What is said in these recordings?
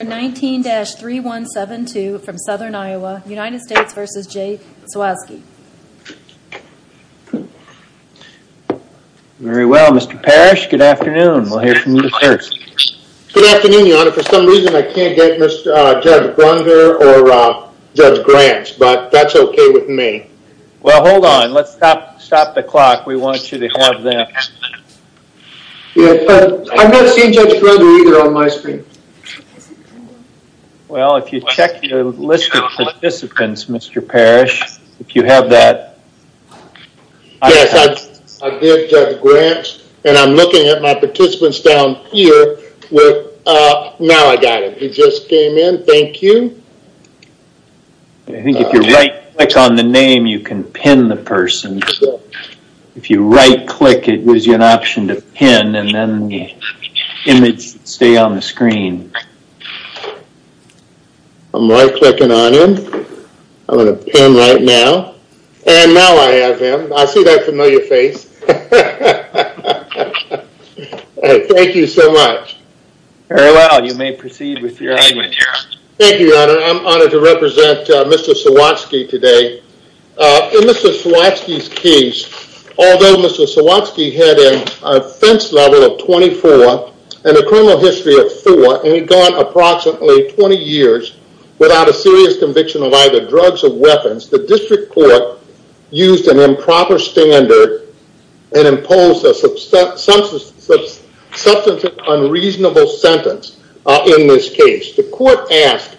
19-3172 from Southern Iowa, United States v. Jay Sawatzky. Very well, Mr. Parrish. Good afternoon. We'll hear from you first. Good afternoon, Your Honor. For some reason, I can't get Judge Grunder or Judge Grant, but that's okay with me. Well, hold on. Let's stop the clock. We want you to have them. I'm not seeing Judge Grunder either on my screen. Well, if you check your list of participants, Mr. Parrish, if you have that. Yes, I did, Judge Grant, and I'm looking at my participants down here. Now I got him. He just came in. Thank you. I think if you right click on the name, you can pin the person. If you right click, it gives you an option to pin, and then the image will stay on the screen. I'm right clicking on him. I'm going to pin right now, and now I have him. I see that familiar face. Thank you so much. Very well. You may proceed with your argument. Thank you, Your Honor. I'm honored to represent Mr. Sawatzky today. In Mr. Sawatzky's case, although Mr. Sawatzky had an offense level of 24 and a criminal history of four, and he'd gone approximately 20 years without a serious conviction of either drugs or weapons, the district court used an improper standard and imposed a substantive unreasonable sentence in this case. The court asked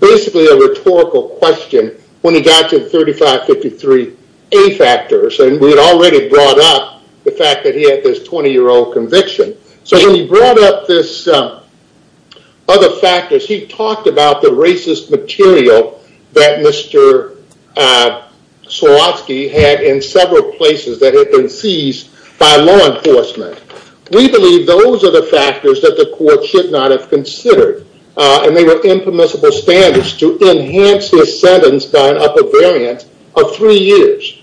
basically a rhetorical question when he got to the 3553A factors, and we had already brought up the fact that he had this 20-year-old conviction. When he brought up this other factors, he talked about the racist material that Mr. Sawatzky had in several places that had been seized by law enforcement. We believe those are the factors that the court should not have considered, and they were impermissible standards to enhance his sentence by an upper variant of three years.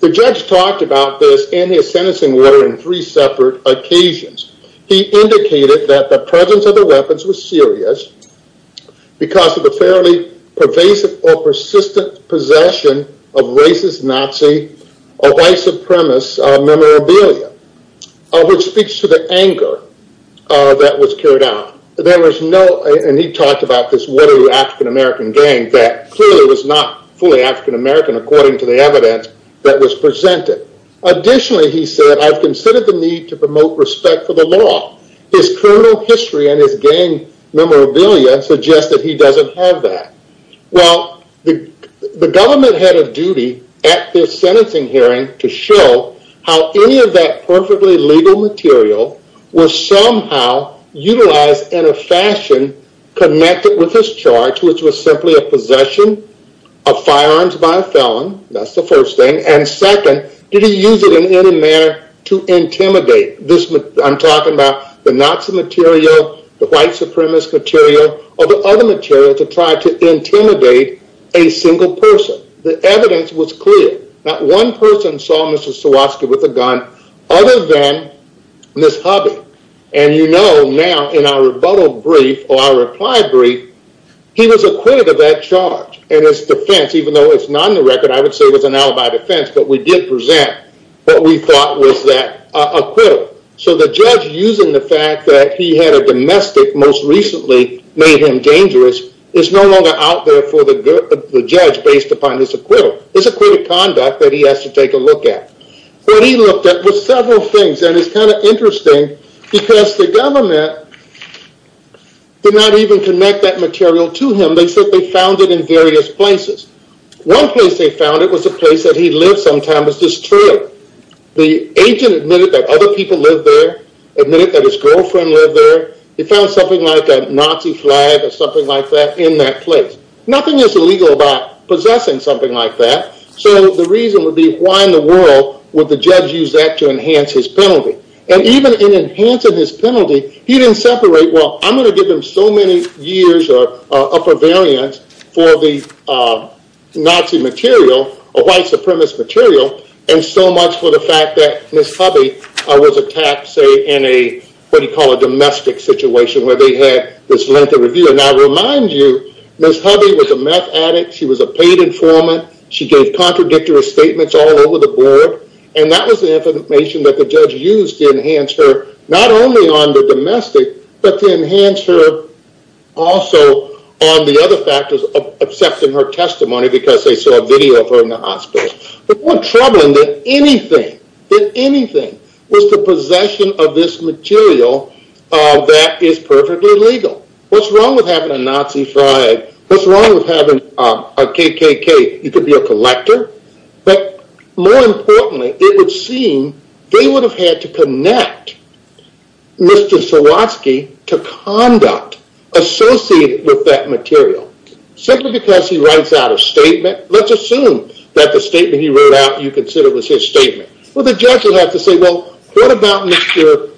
The judge talked about this in his sentencing order in three separate occasions. He indicated that the presence of the weapons was serious because of the fairly pervasive or persistent possession of racist Nazi or white supremacist memorabilia, which speaks to the anger that was carried out. He talked about this watery African-American gang that clearly was not fully African-American according to the evidence that was presented. Additionally, he said, I've considered the need to promote respect for the law. His criminal history and his gang memorabilia suggest that he doesn't have that. Well, the government head of duty at this sentencing hearing to show how any of that perfectly legal material was somehow utilized in a fashion connected with his charge, which was simply a possession of firearms by a felon. That's the first thing, and second, did he use it in any manner to intimidate? I'm talking about the Nazi material, the white supremacist material, or the other material to try to intimidate a single person. The evidence was clear. Not one person saw Mr. Swarovski with a gun other than Ms. Hubby, and you know now in our rebuttal brief or our reply brief, he was acquitted of that charge in his defense, even though it's not in the record. I would say it was an alibi defense, but we did present what we thought was that acquittal. So the judge, using the fact that he had a domestic most recently made him dangerous, is no longer out there for the judge based upon this acquittal. It's acquitted conduct that he has to take a look at. What he looked at was several things, and it's kind of interesting because the government did not even connect that material to him. They said they found it in various places. One place they found it was a place that he lived sometime, was this trail. The agent admitted that other people lived there, admitted that his girlfriend lived there. He found something like a Nazi flag or something like that in that place. Nothing is illegal about possessing something like that. So the reason would be, why in the world would the judge use that to enhance his penalty? And even in enhancing his penalty, he didn't separate, well, I'm going to give him so many years of upper variance for the Nazi material, a white supremacist material, and so much for the fact that Miss Hubby was attacked, say, in a, what do you call it, domestic situation where they had this length of review. And I remind you, Miss Hubby was a meth addict. She was a paid informant. She gave contradictory statements all over the board. And that was the information that the judge used to enhance her, not only on the domestic, but to enhance her also on the other factors of accepting her testimony because they saw a video of her in the hospital. But more troubling than anything, than anything, was the possession of this material that is perfectly legal. What's wrong with having a Nazi flag? What's wrong with having a KKK? You could be a collector. But more importantly, it would seem they would have had to connect Mr. Sawatsky to conduct associated with that material. Simply because he writes out a statement, let's assume that the statement he wrote out you consider was his statement. Well, the judge would have to say, well, what about Mr.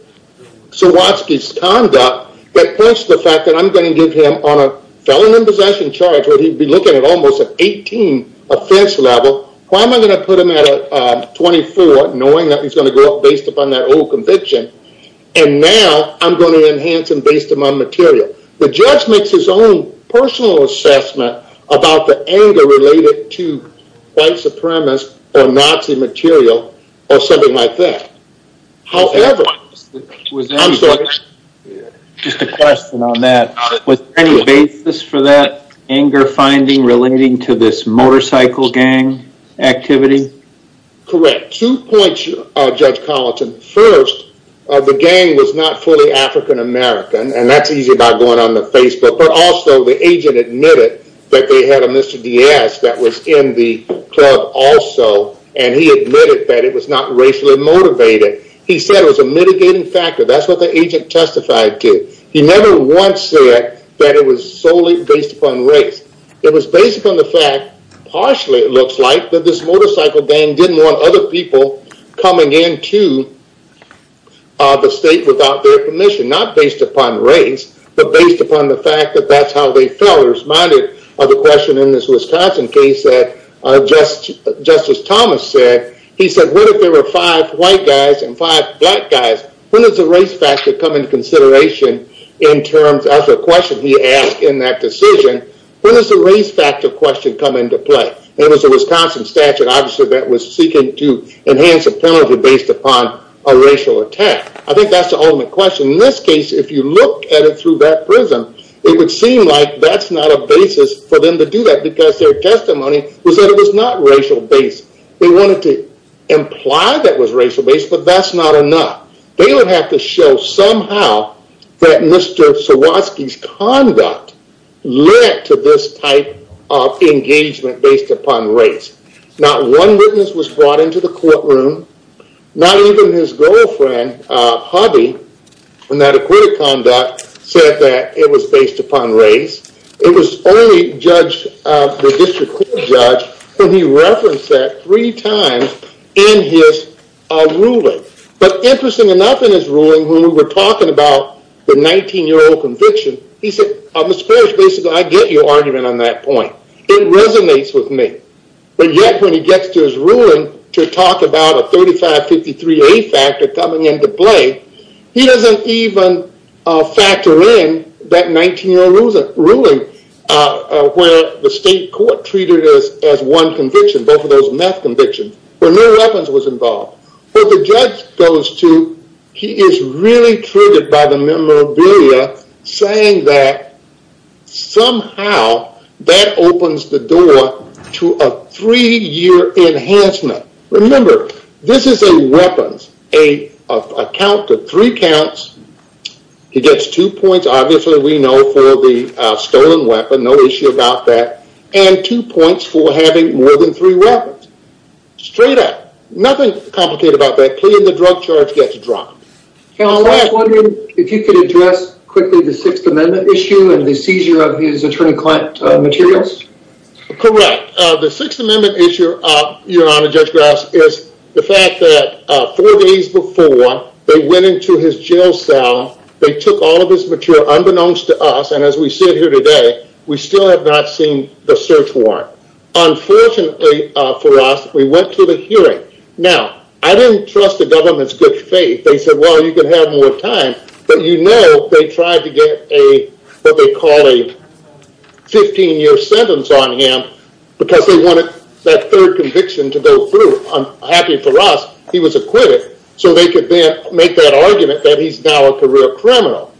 Sawatsky's conduct that points to the fact that I'm going to give him on a felon in possession charge, where he'd be looking at almost an 18 offense level. Why am I going to put him at a 24, knowing that he's going to go up based upon that old conviction? And now I'm going to enhance him based upon material. The judge makes his own personal assessment about the anger related to white supremacist or Nazi material or something like that. However, I'm sorry. Just a question on that. Was there any basis for that anger finding relating to this motorcycle gang activity? Correct. Two points, Judge Collinson. First, the gang was not fully African American. And that's easy by going on the Facebook. But also, the agent admitted that they had a Mr. Diaz that was in the club also. And he admitted that it was not racially motivated. He said it was a mitigating factor. That's what the agent testified to. He never once said that it was solely based upon race. It was based upon the fact, partially it looks like, that this motorcycle gang didn't want other people coming into the state without their permission. Not based upon race, but based upon the fact that that's how they felt. It reminded of a question in this Wisconsin case that Justice Thomas said. He said, what if there were five white guys and five black guys? When does the race factor come into consideration as a question he asked in that decision? When does the race factor question come into play? And it was a Wisconsin statute, obviously, that was seeking to enhance a penalty based upon a racial attack. I think that's the ultimate question. In this case, if you look at it through that prism, it would seem like that's not a basis for them to do that. Because their testimony was that it was not racial based. They wanted to imply that it was racial based, but that's not enough. They would have to show somehow that Mr. Sawatsky's conduct led to this type of engagement based upon race. Not one witness was brought into the courtroom. Not even his girlfriend, Hubby, in that acquitted conduct, said that it was based upon race. It was only the district court judge when he referenced that three times in his ruling. But interesting enough in his ruling, when we were talking about the 19-year-old conviction, he said, Mr. Parrish, basically, I get your argument on that point. It resonates with me. But yet, when he gets to his ruling to talk about a 3553A factor coming into play, he doesn't even factor in that 19-year-old ruling where the state court treated it as one conviction, both of those meth convictions, where no weapons was involved. Well, the judge goes to, he is really triggered by the memorabilia, saying that somehow that opens the door to a three-year enhancement. Remember, this is a weapons, a count of three counts. He gets two points, obviously, we know, for the stolen weapon, no issue about that, and two points for having more than three weapons. Straight up. Nothing complicated about that. Paying the drug charge gets dropped. I was wondering if you could address quickly the Sixth Amendment issue and the seizure of his attorney-client materials. Correct. The Sixth Amendment issue, Your Honor, Judge Grouse, is the fact that four days before they went into his jail cell, they took all of his material unbeknownst to us, and as we sit here today, we still have not seen the search warrant. Unfortunately for us, we went to the hearing. Now, I didn't trust the government's good faith. They said, well, you can have more time, but you know they tried to get what they call a 15-year sentence on him because they wanted that third conviction to go through. Happy for us, he was acquitted, so they could then make that argument that he's now a career criminal.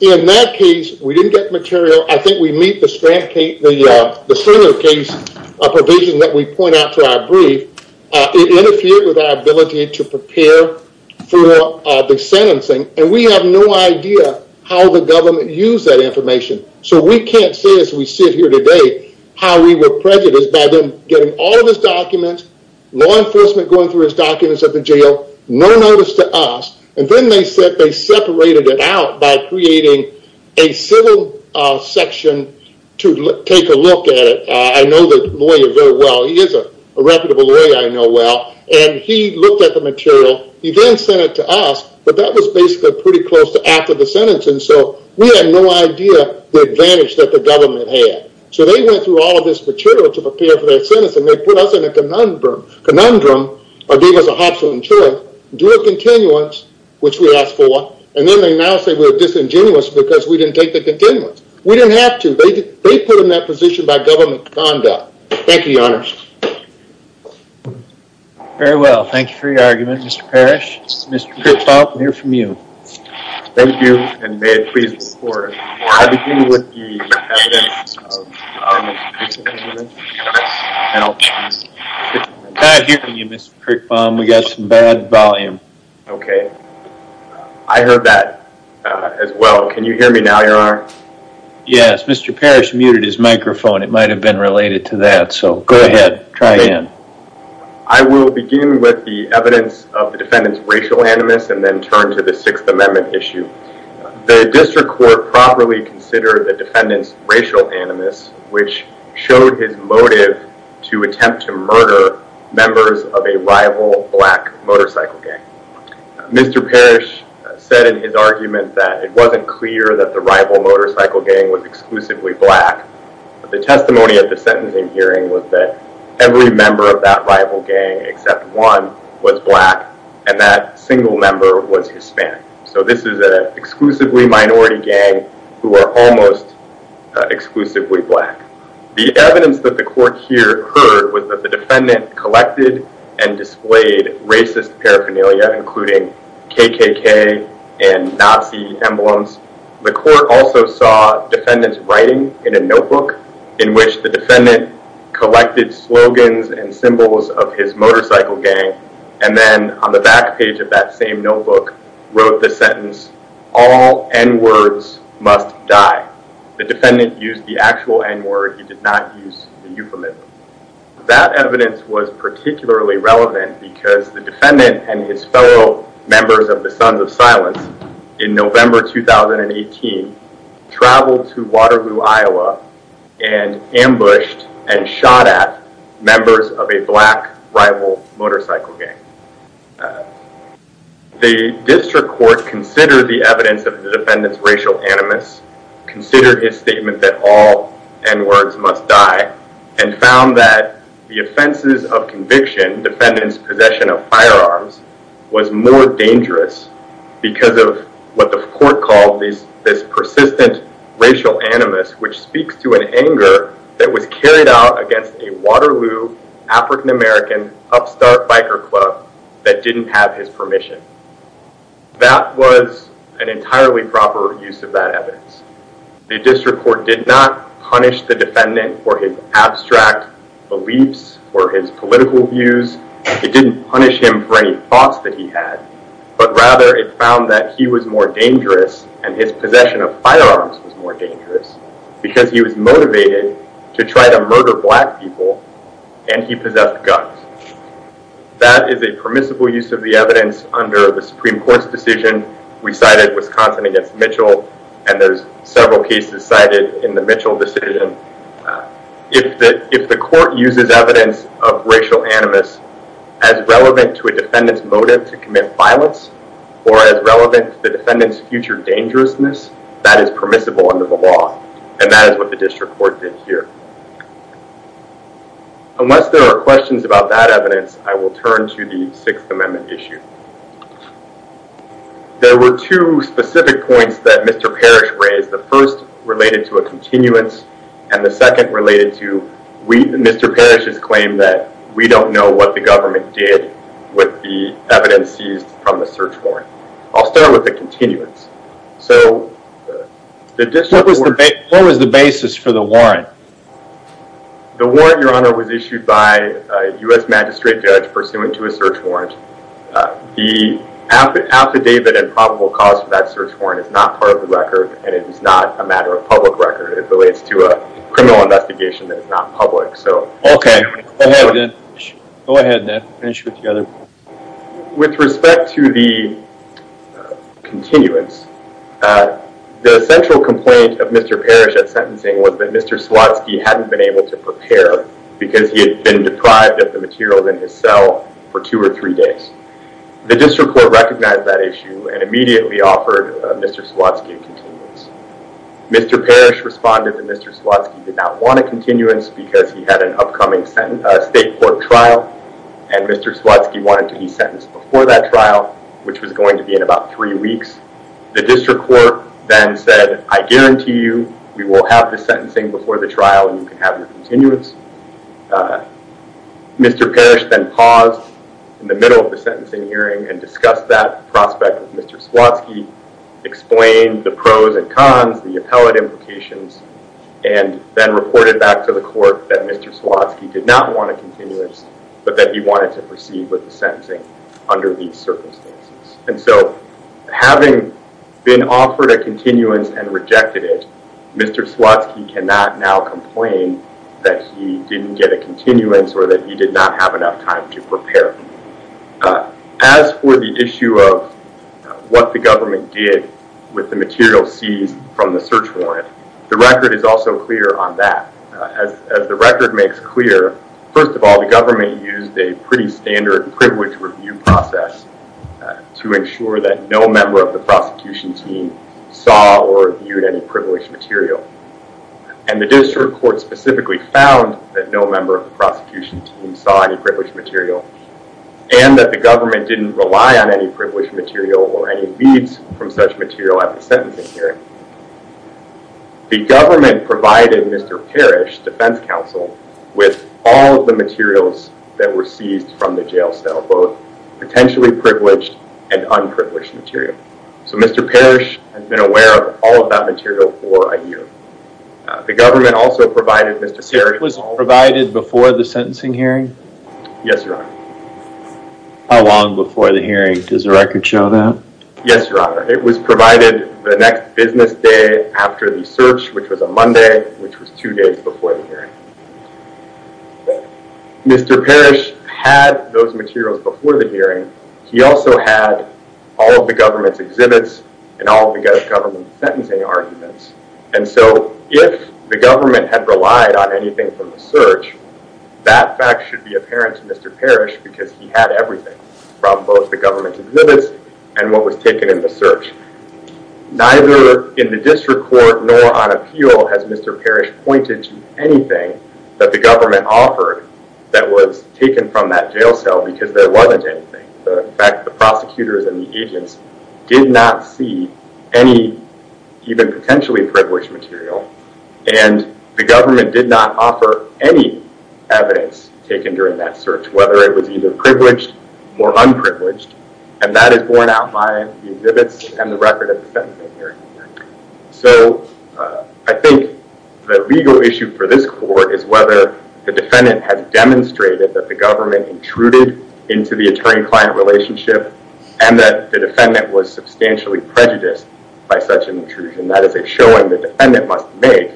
In that case, we didn't get material. I think we meet the center case provision that we point out to our brief. It interfered with our ability to prepare for the sentencing, and we have no idea how the government used that information, so we can't say as we sit here today how we were prejudiced by them getting all of his documents, law enforcement going through his documents at the jail, no notice to us, and then they said they separated it out by creating a civil section to take a look at it. I know the lawyer very well. He is a reputable lawyer I know well, and he looked at the material. He then sent it to us, but that was basically pretty close to after the sentencing, so we had no idea the advantage that the government had, so they went through all of this material to prepare for their sentencing. They put us in a conundrum or gave us a hops on choice, to do a continuance, which we asked for, and then they now say we're disingenuous because we didn't take the continuance. We didn't have to. They put us in that position by government conduct. Thank you, your honors. Very well. Thank you for your argument, Mr. Parrish. Mr. Krichbaum, we'll hear from you. Thank you, and may it please the court. I begin with the evidence of our most recent hearing. I'm not hearing you, Mr. Krichbaum. We got some bad volume. Okay. I heard that as well. Can you hear me now, your honor? Yes. Mr. Parrish muted his microphone. It might have been related to that, so go ahead. Try again. I will begin with the evidence of the defendant's racial animus and then turn to the Sixth Amendment issue. The district court properly considered the defendant's racial animus, which showed his motive to attempt to murder members of a rival black motorcycle gang. Mr. Parrish said in his argument that it wasn't clear that the rival motorcycle gang was exclusively black. The testimony at the sentencing hearing was that every member of that rival gang except one was black, and that single member was Hispanic. So this is an exclusively minority gang who are almost exclusively black. The evidence that the court here heard was that the defendant collected and displayed racist paraphernalia, including KKK and Nazi emblems. The court also saw defendant's writing in a notebook in which the defendant collected slogans and symbols of his motorcycle gang, and then on the back page of that same notebook wrote the sentence, All N-words must die. The defendant used the actual N-word. He did not use the euphemism. That evidence was particularly relevant because the defendant and his fellow members of the Sons of Silence in November 2018 traveled to Waterloo, Iowa, and ambushed and shot at members of a black rival motorcycle gang. The district court considered the evidence of the defendant's racial animus, considered his statement that all N-words must die, and found that the offenses of conviction, defendant's possession of firearms, was more dangerous because of what the court called this persistent racial animus, which speaks to an anger that was carried out against a Waterloo African American upstart biker club that didn't have his permission. That was an entirely proper use of that evidence. The district court did not punish the defendant for his abstract beliefs or his political views. It didn't punish him for any thoughts that he had, but rather it found that he was more dangerous and his possession of firearms was more dangerous because he was motivated to try to murder black people and he possessed guns. That is a permissible use of the evidence under the Supreme Court's decision. We cited Wisconsin against Mitchell, and there's several cases cited in the Mitchell decision. If the court uses evidence of racial animus as relevant to a defendant's motive to commit violence or as relevant to the defendant's future dangerousness, that is permissible under the law, and that is what the district court did here. Unless there are questions about that evidence, I will turn to the Sixth Amendment issue. There were two specific points that Mr. Parrish raised. The first related to a continuance, and the second related to Mr. Parrish's claim that we don't know what the government did with the evidence seized from the search warrant. I'll start with the continuance. What was the basis for the warrant? The warrant, Your Honor, was issued by a U.S. magistrate judge pursuant to a search warrant. The affidavit and probable cause for that search warrant is not part of the record, and it is not a matter of public record. It relates to a criminal investigation that is not public. Okay. Go ahead, then. Finish with the other points. With respect to the continuance, the central complaint of Mr. Parrish at sentencing was that Mr. Swatsky hadn't been able to prepare because he had been deprived of the materials in his cell for two or three days. The district court recognized that issue and immediately offered Mr. Swatsky a continuance. Mr. Parrish responded that Mr. Swatsky did not want a continuance because he had an upcoming state court trial, and Mr. Swatsky wanted to be sentenced before that trial, which was going to be in about three weeks. The district court then said, I guarantee you we will have the sentencing before the trial and you can have your continuance. Mr. Parrish then paused in the middle of the sentencing hearing and discussed that prospect with Mr. Swatsky, explained the pros and cons, the appellate implications, and then reported back to the court that Mr. Swatsky did not want a continuance, but that he wanted to proceed with the sentencing under these circumstances. Having been offered a continuance and rejected it, Mr. Swatsky cannot now complain that he didn't get a continuance or that he did not have enough time to prepare. As for the issue of what the government did with the materials seized from the search warrant, the record is also clear on that. As the record makes clear, first of all, the government used a pretty standard privilege review process to ensure that no member of the prosecution team saw or viewed any privileged material. The district court specifically found that no member of the prosecution team saw any privileged material and that the government didn't rely on any privileged material or any leads from such material at the sentencing hearing. The government provided Mr. Parrish, defense counsel, with all of the materials that were seized from the jail cell, both potentially privileged and unprivileged material. So Mr. Parrish has been aware of all of that material for a year. The government also provided Mr. Parrish... So it was provided before the sentencing hearing? Yes, Your Honor. How long before the hearing? Does the record show that? Yes, Your Honor. It was provided the next business day after the search, which was a Monday, which was two days before the hearing. Mr. Parrish had those materials before the hearing. He also had all of the government's exhibits and all of the government's sentencing arguments. And so if the government had relied on anything from the search, that fact should be apparent to Mr. Parrish because he had everything from both the government's exhibits and what was taken in the search. Neither in the district court nor on appeal has Mr. Parrish pointed to anything that the government offered that was taken from that jail cell because there wasn't anything. In fact, the prosecutors and the agents did not see any, even potentially privileged material, and the government did not offer any evidence taken during that search, whether it was either privileged or unprivileged, and that is borne out by the exhibits and the record of the sentencing hearing. So I think the legal issue for this court is whether the defendant has demonstrated that the government intruded into the attorney-client relationship and that the defendant was substantially prejudiced by such an intrusion. That is a showing the defendant must make,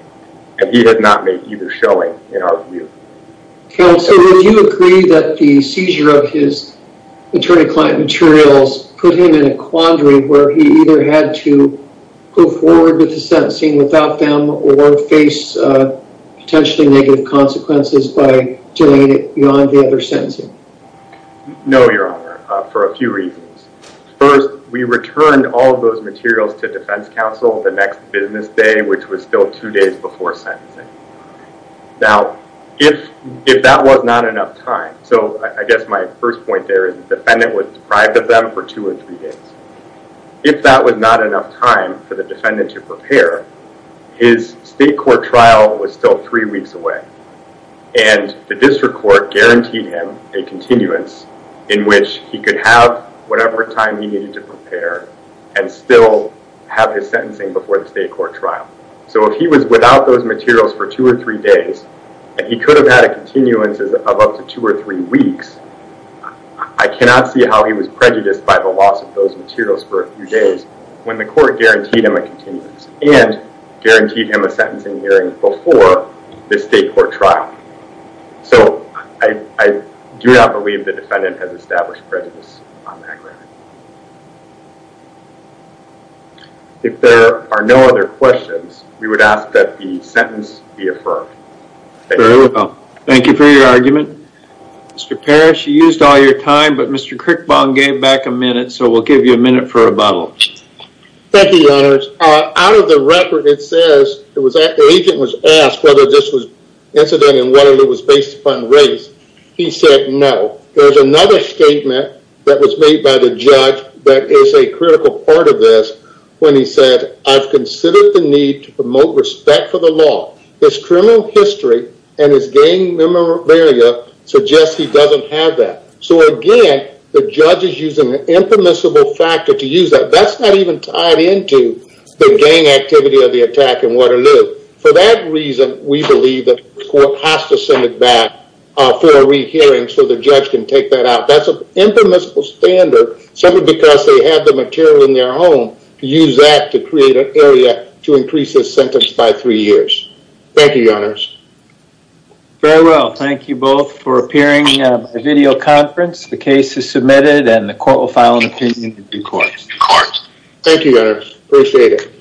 and he did not make either showing in our view. Counsel, would you agree that the seizure of his attorney-client materials put him in a quandary where he either had to move forward with the sentencing without them or face potentially negative consequences by doing it beyond the other sentencing? No, Your Honor, for a few reasons. First, we returned all of those materials to defense counsel the next business day, which was still two days before sentencing. Now, if that was not enough time, so I guess my first point there is the defendant was deprived of them for two or three days. If that was not enough time for the defendant to prepare, his state court trial was still three weeks away, and the district court guaranteed him a continuance in which he could have whatever time he needed to prepare and still have his sentencing before the state court trial. So if he was without those materials for two or three days, and he could have had a continuance of up to two or three weeks, I cannot see how he was prejudiced by the loss of those materials for a few days when the court guaranteed him a continuance and guaranteed him a sentencing hearing before the state court trial. So I do not believe the defendant has established prejudice on that ground. If there are no other questions, we would ask that the sentence be affirmed. Thank you. Thank you for your argument. Mr. Parrish, you used all your time, but Mr. Crickbaum gave back a minute, so we'll give you a minute for rebuttal. Thank you, Your Honors. Out of the record, it says the agent was asked whether this was incident and whether it was based upon race. He said no. There's another statement that was made by the judge that is a critical part of this when he said, I've considered the need to promote respect for the law. His criminal history and his gang memorabilia suggests he doesn't have that. So again, the judge is using an impermissible factor to use that. That's not even tied into the gang activity of the attack in Waterloo. For that reason, we believe that the court has to send it back for a rehearing so the judge can take that out. That's an impermissible standard simply because they had the material in their home to use that to create an area to increase his sentence by three years. Thank you, Your Honors. Very well. Thank you both for appearing at a video conference. The case is submitted, and the court will file an opinion in due course. Thank you, Your Honors. Appreciate it.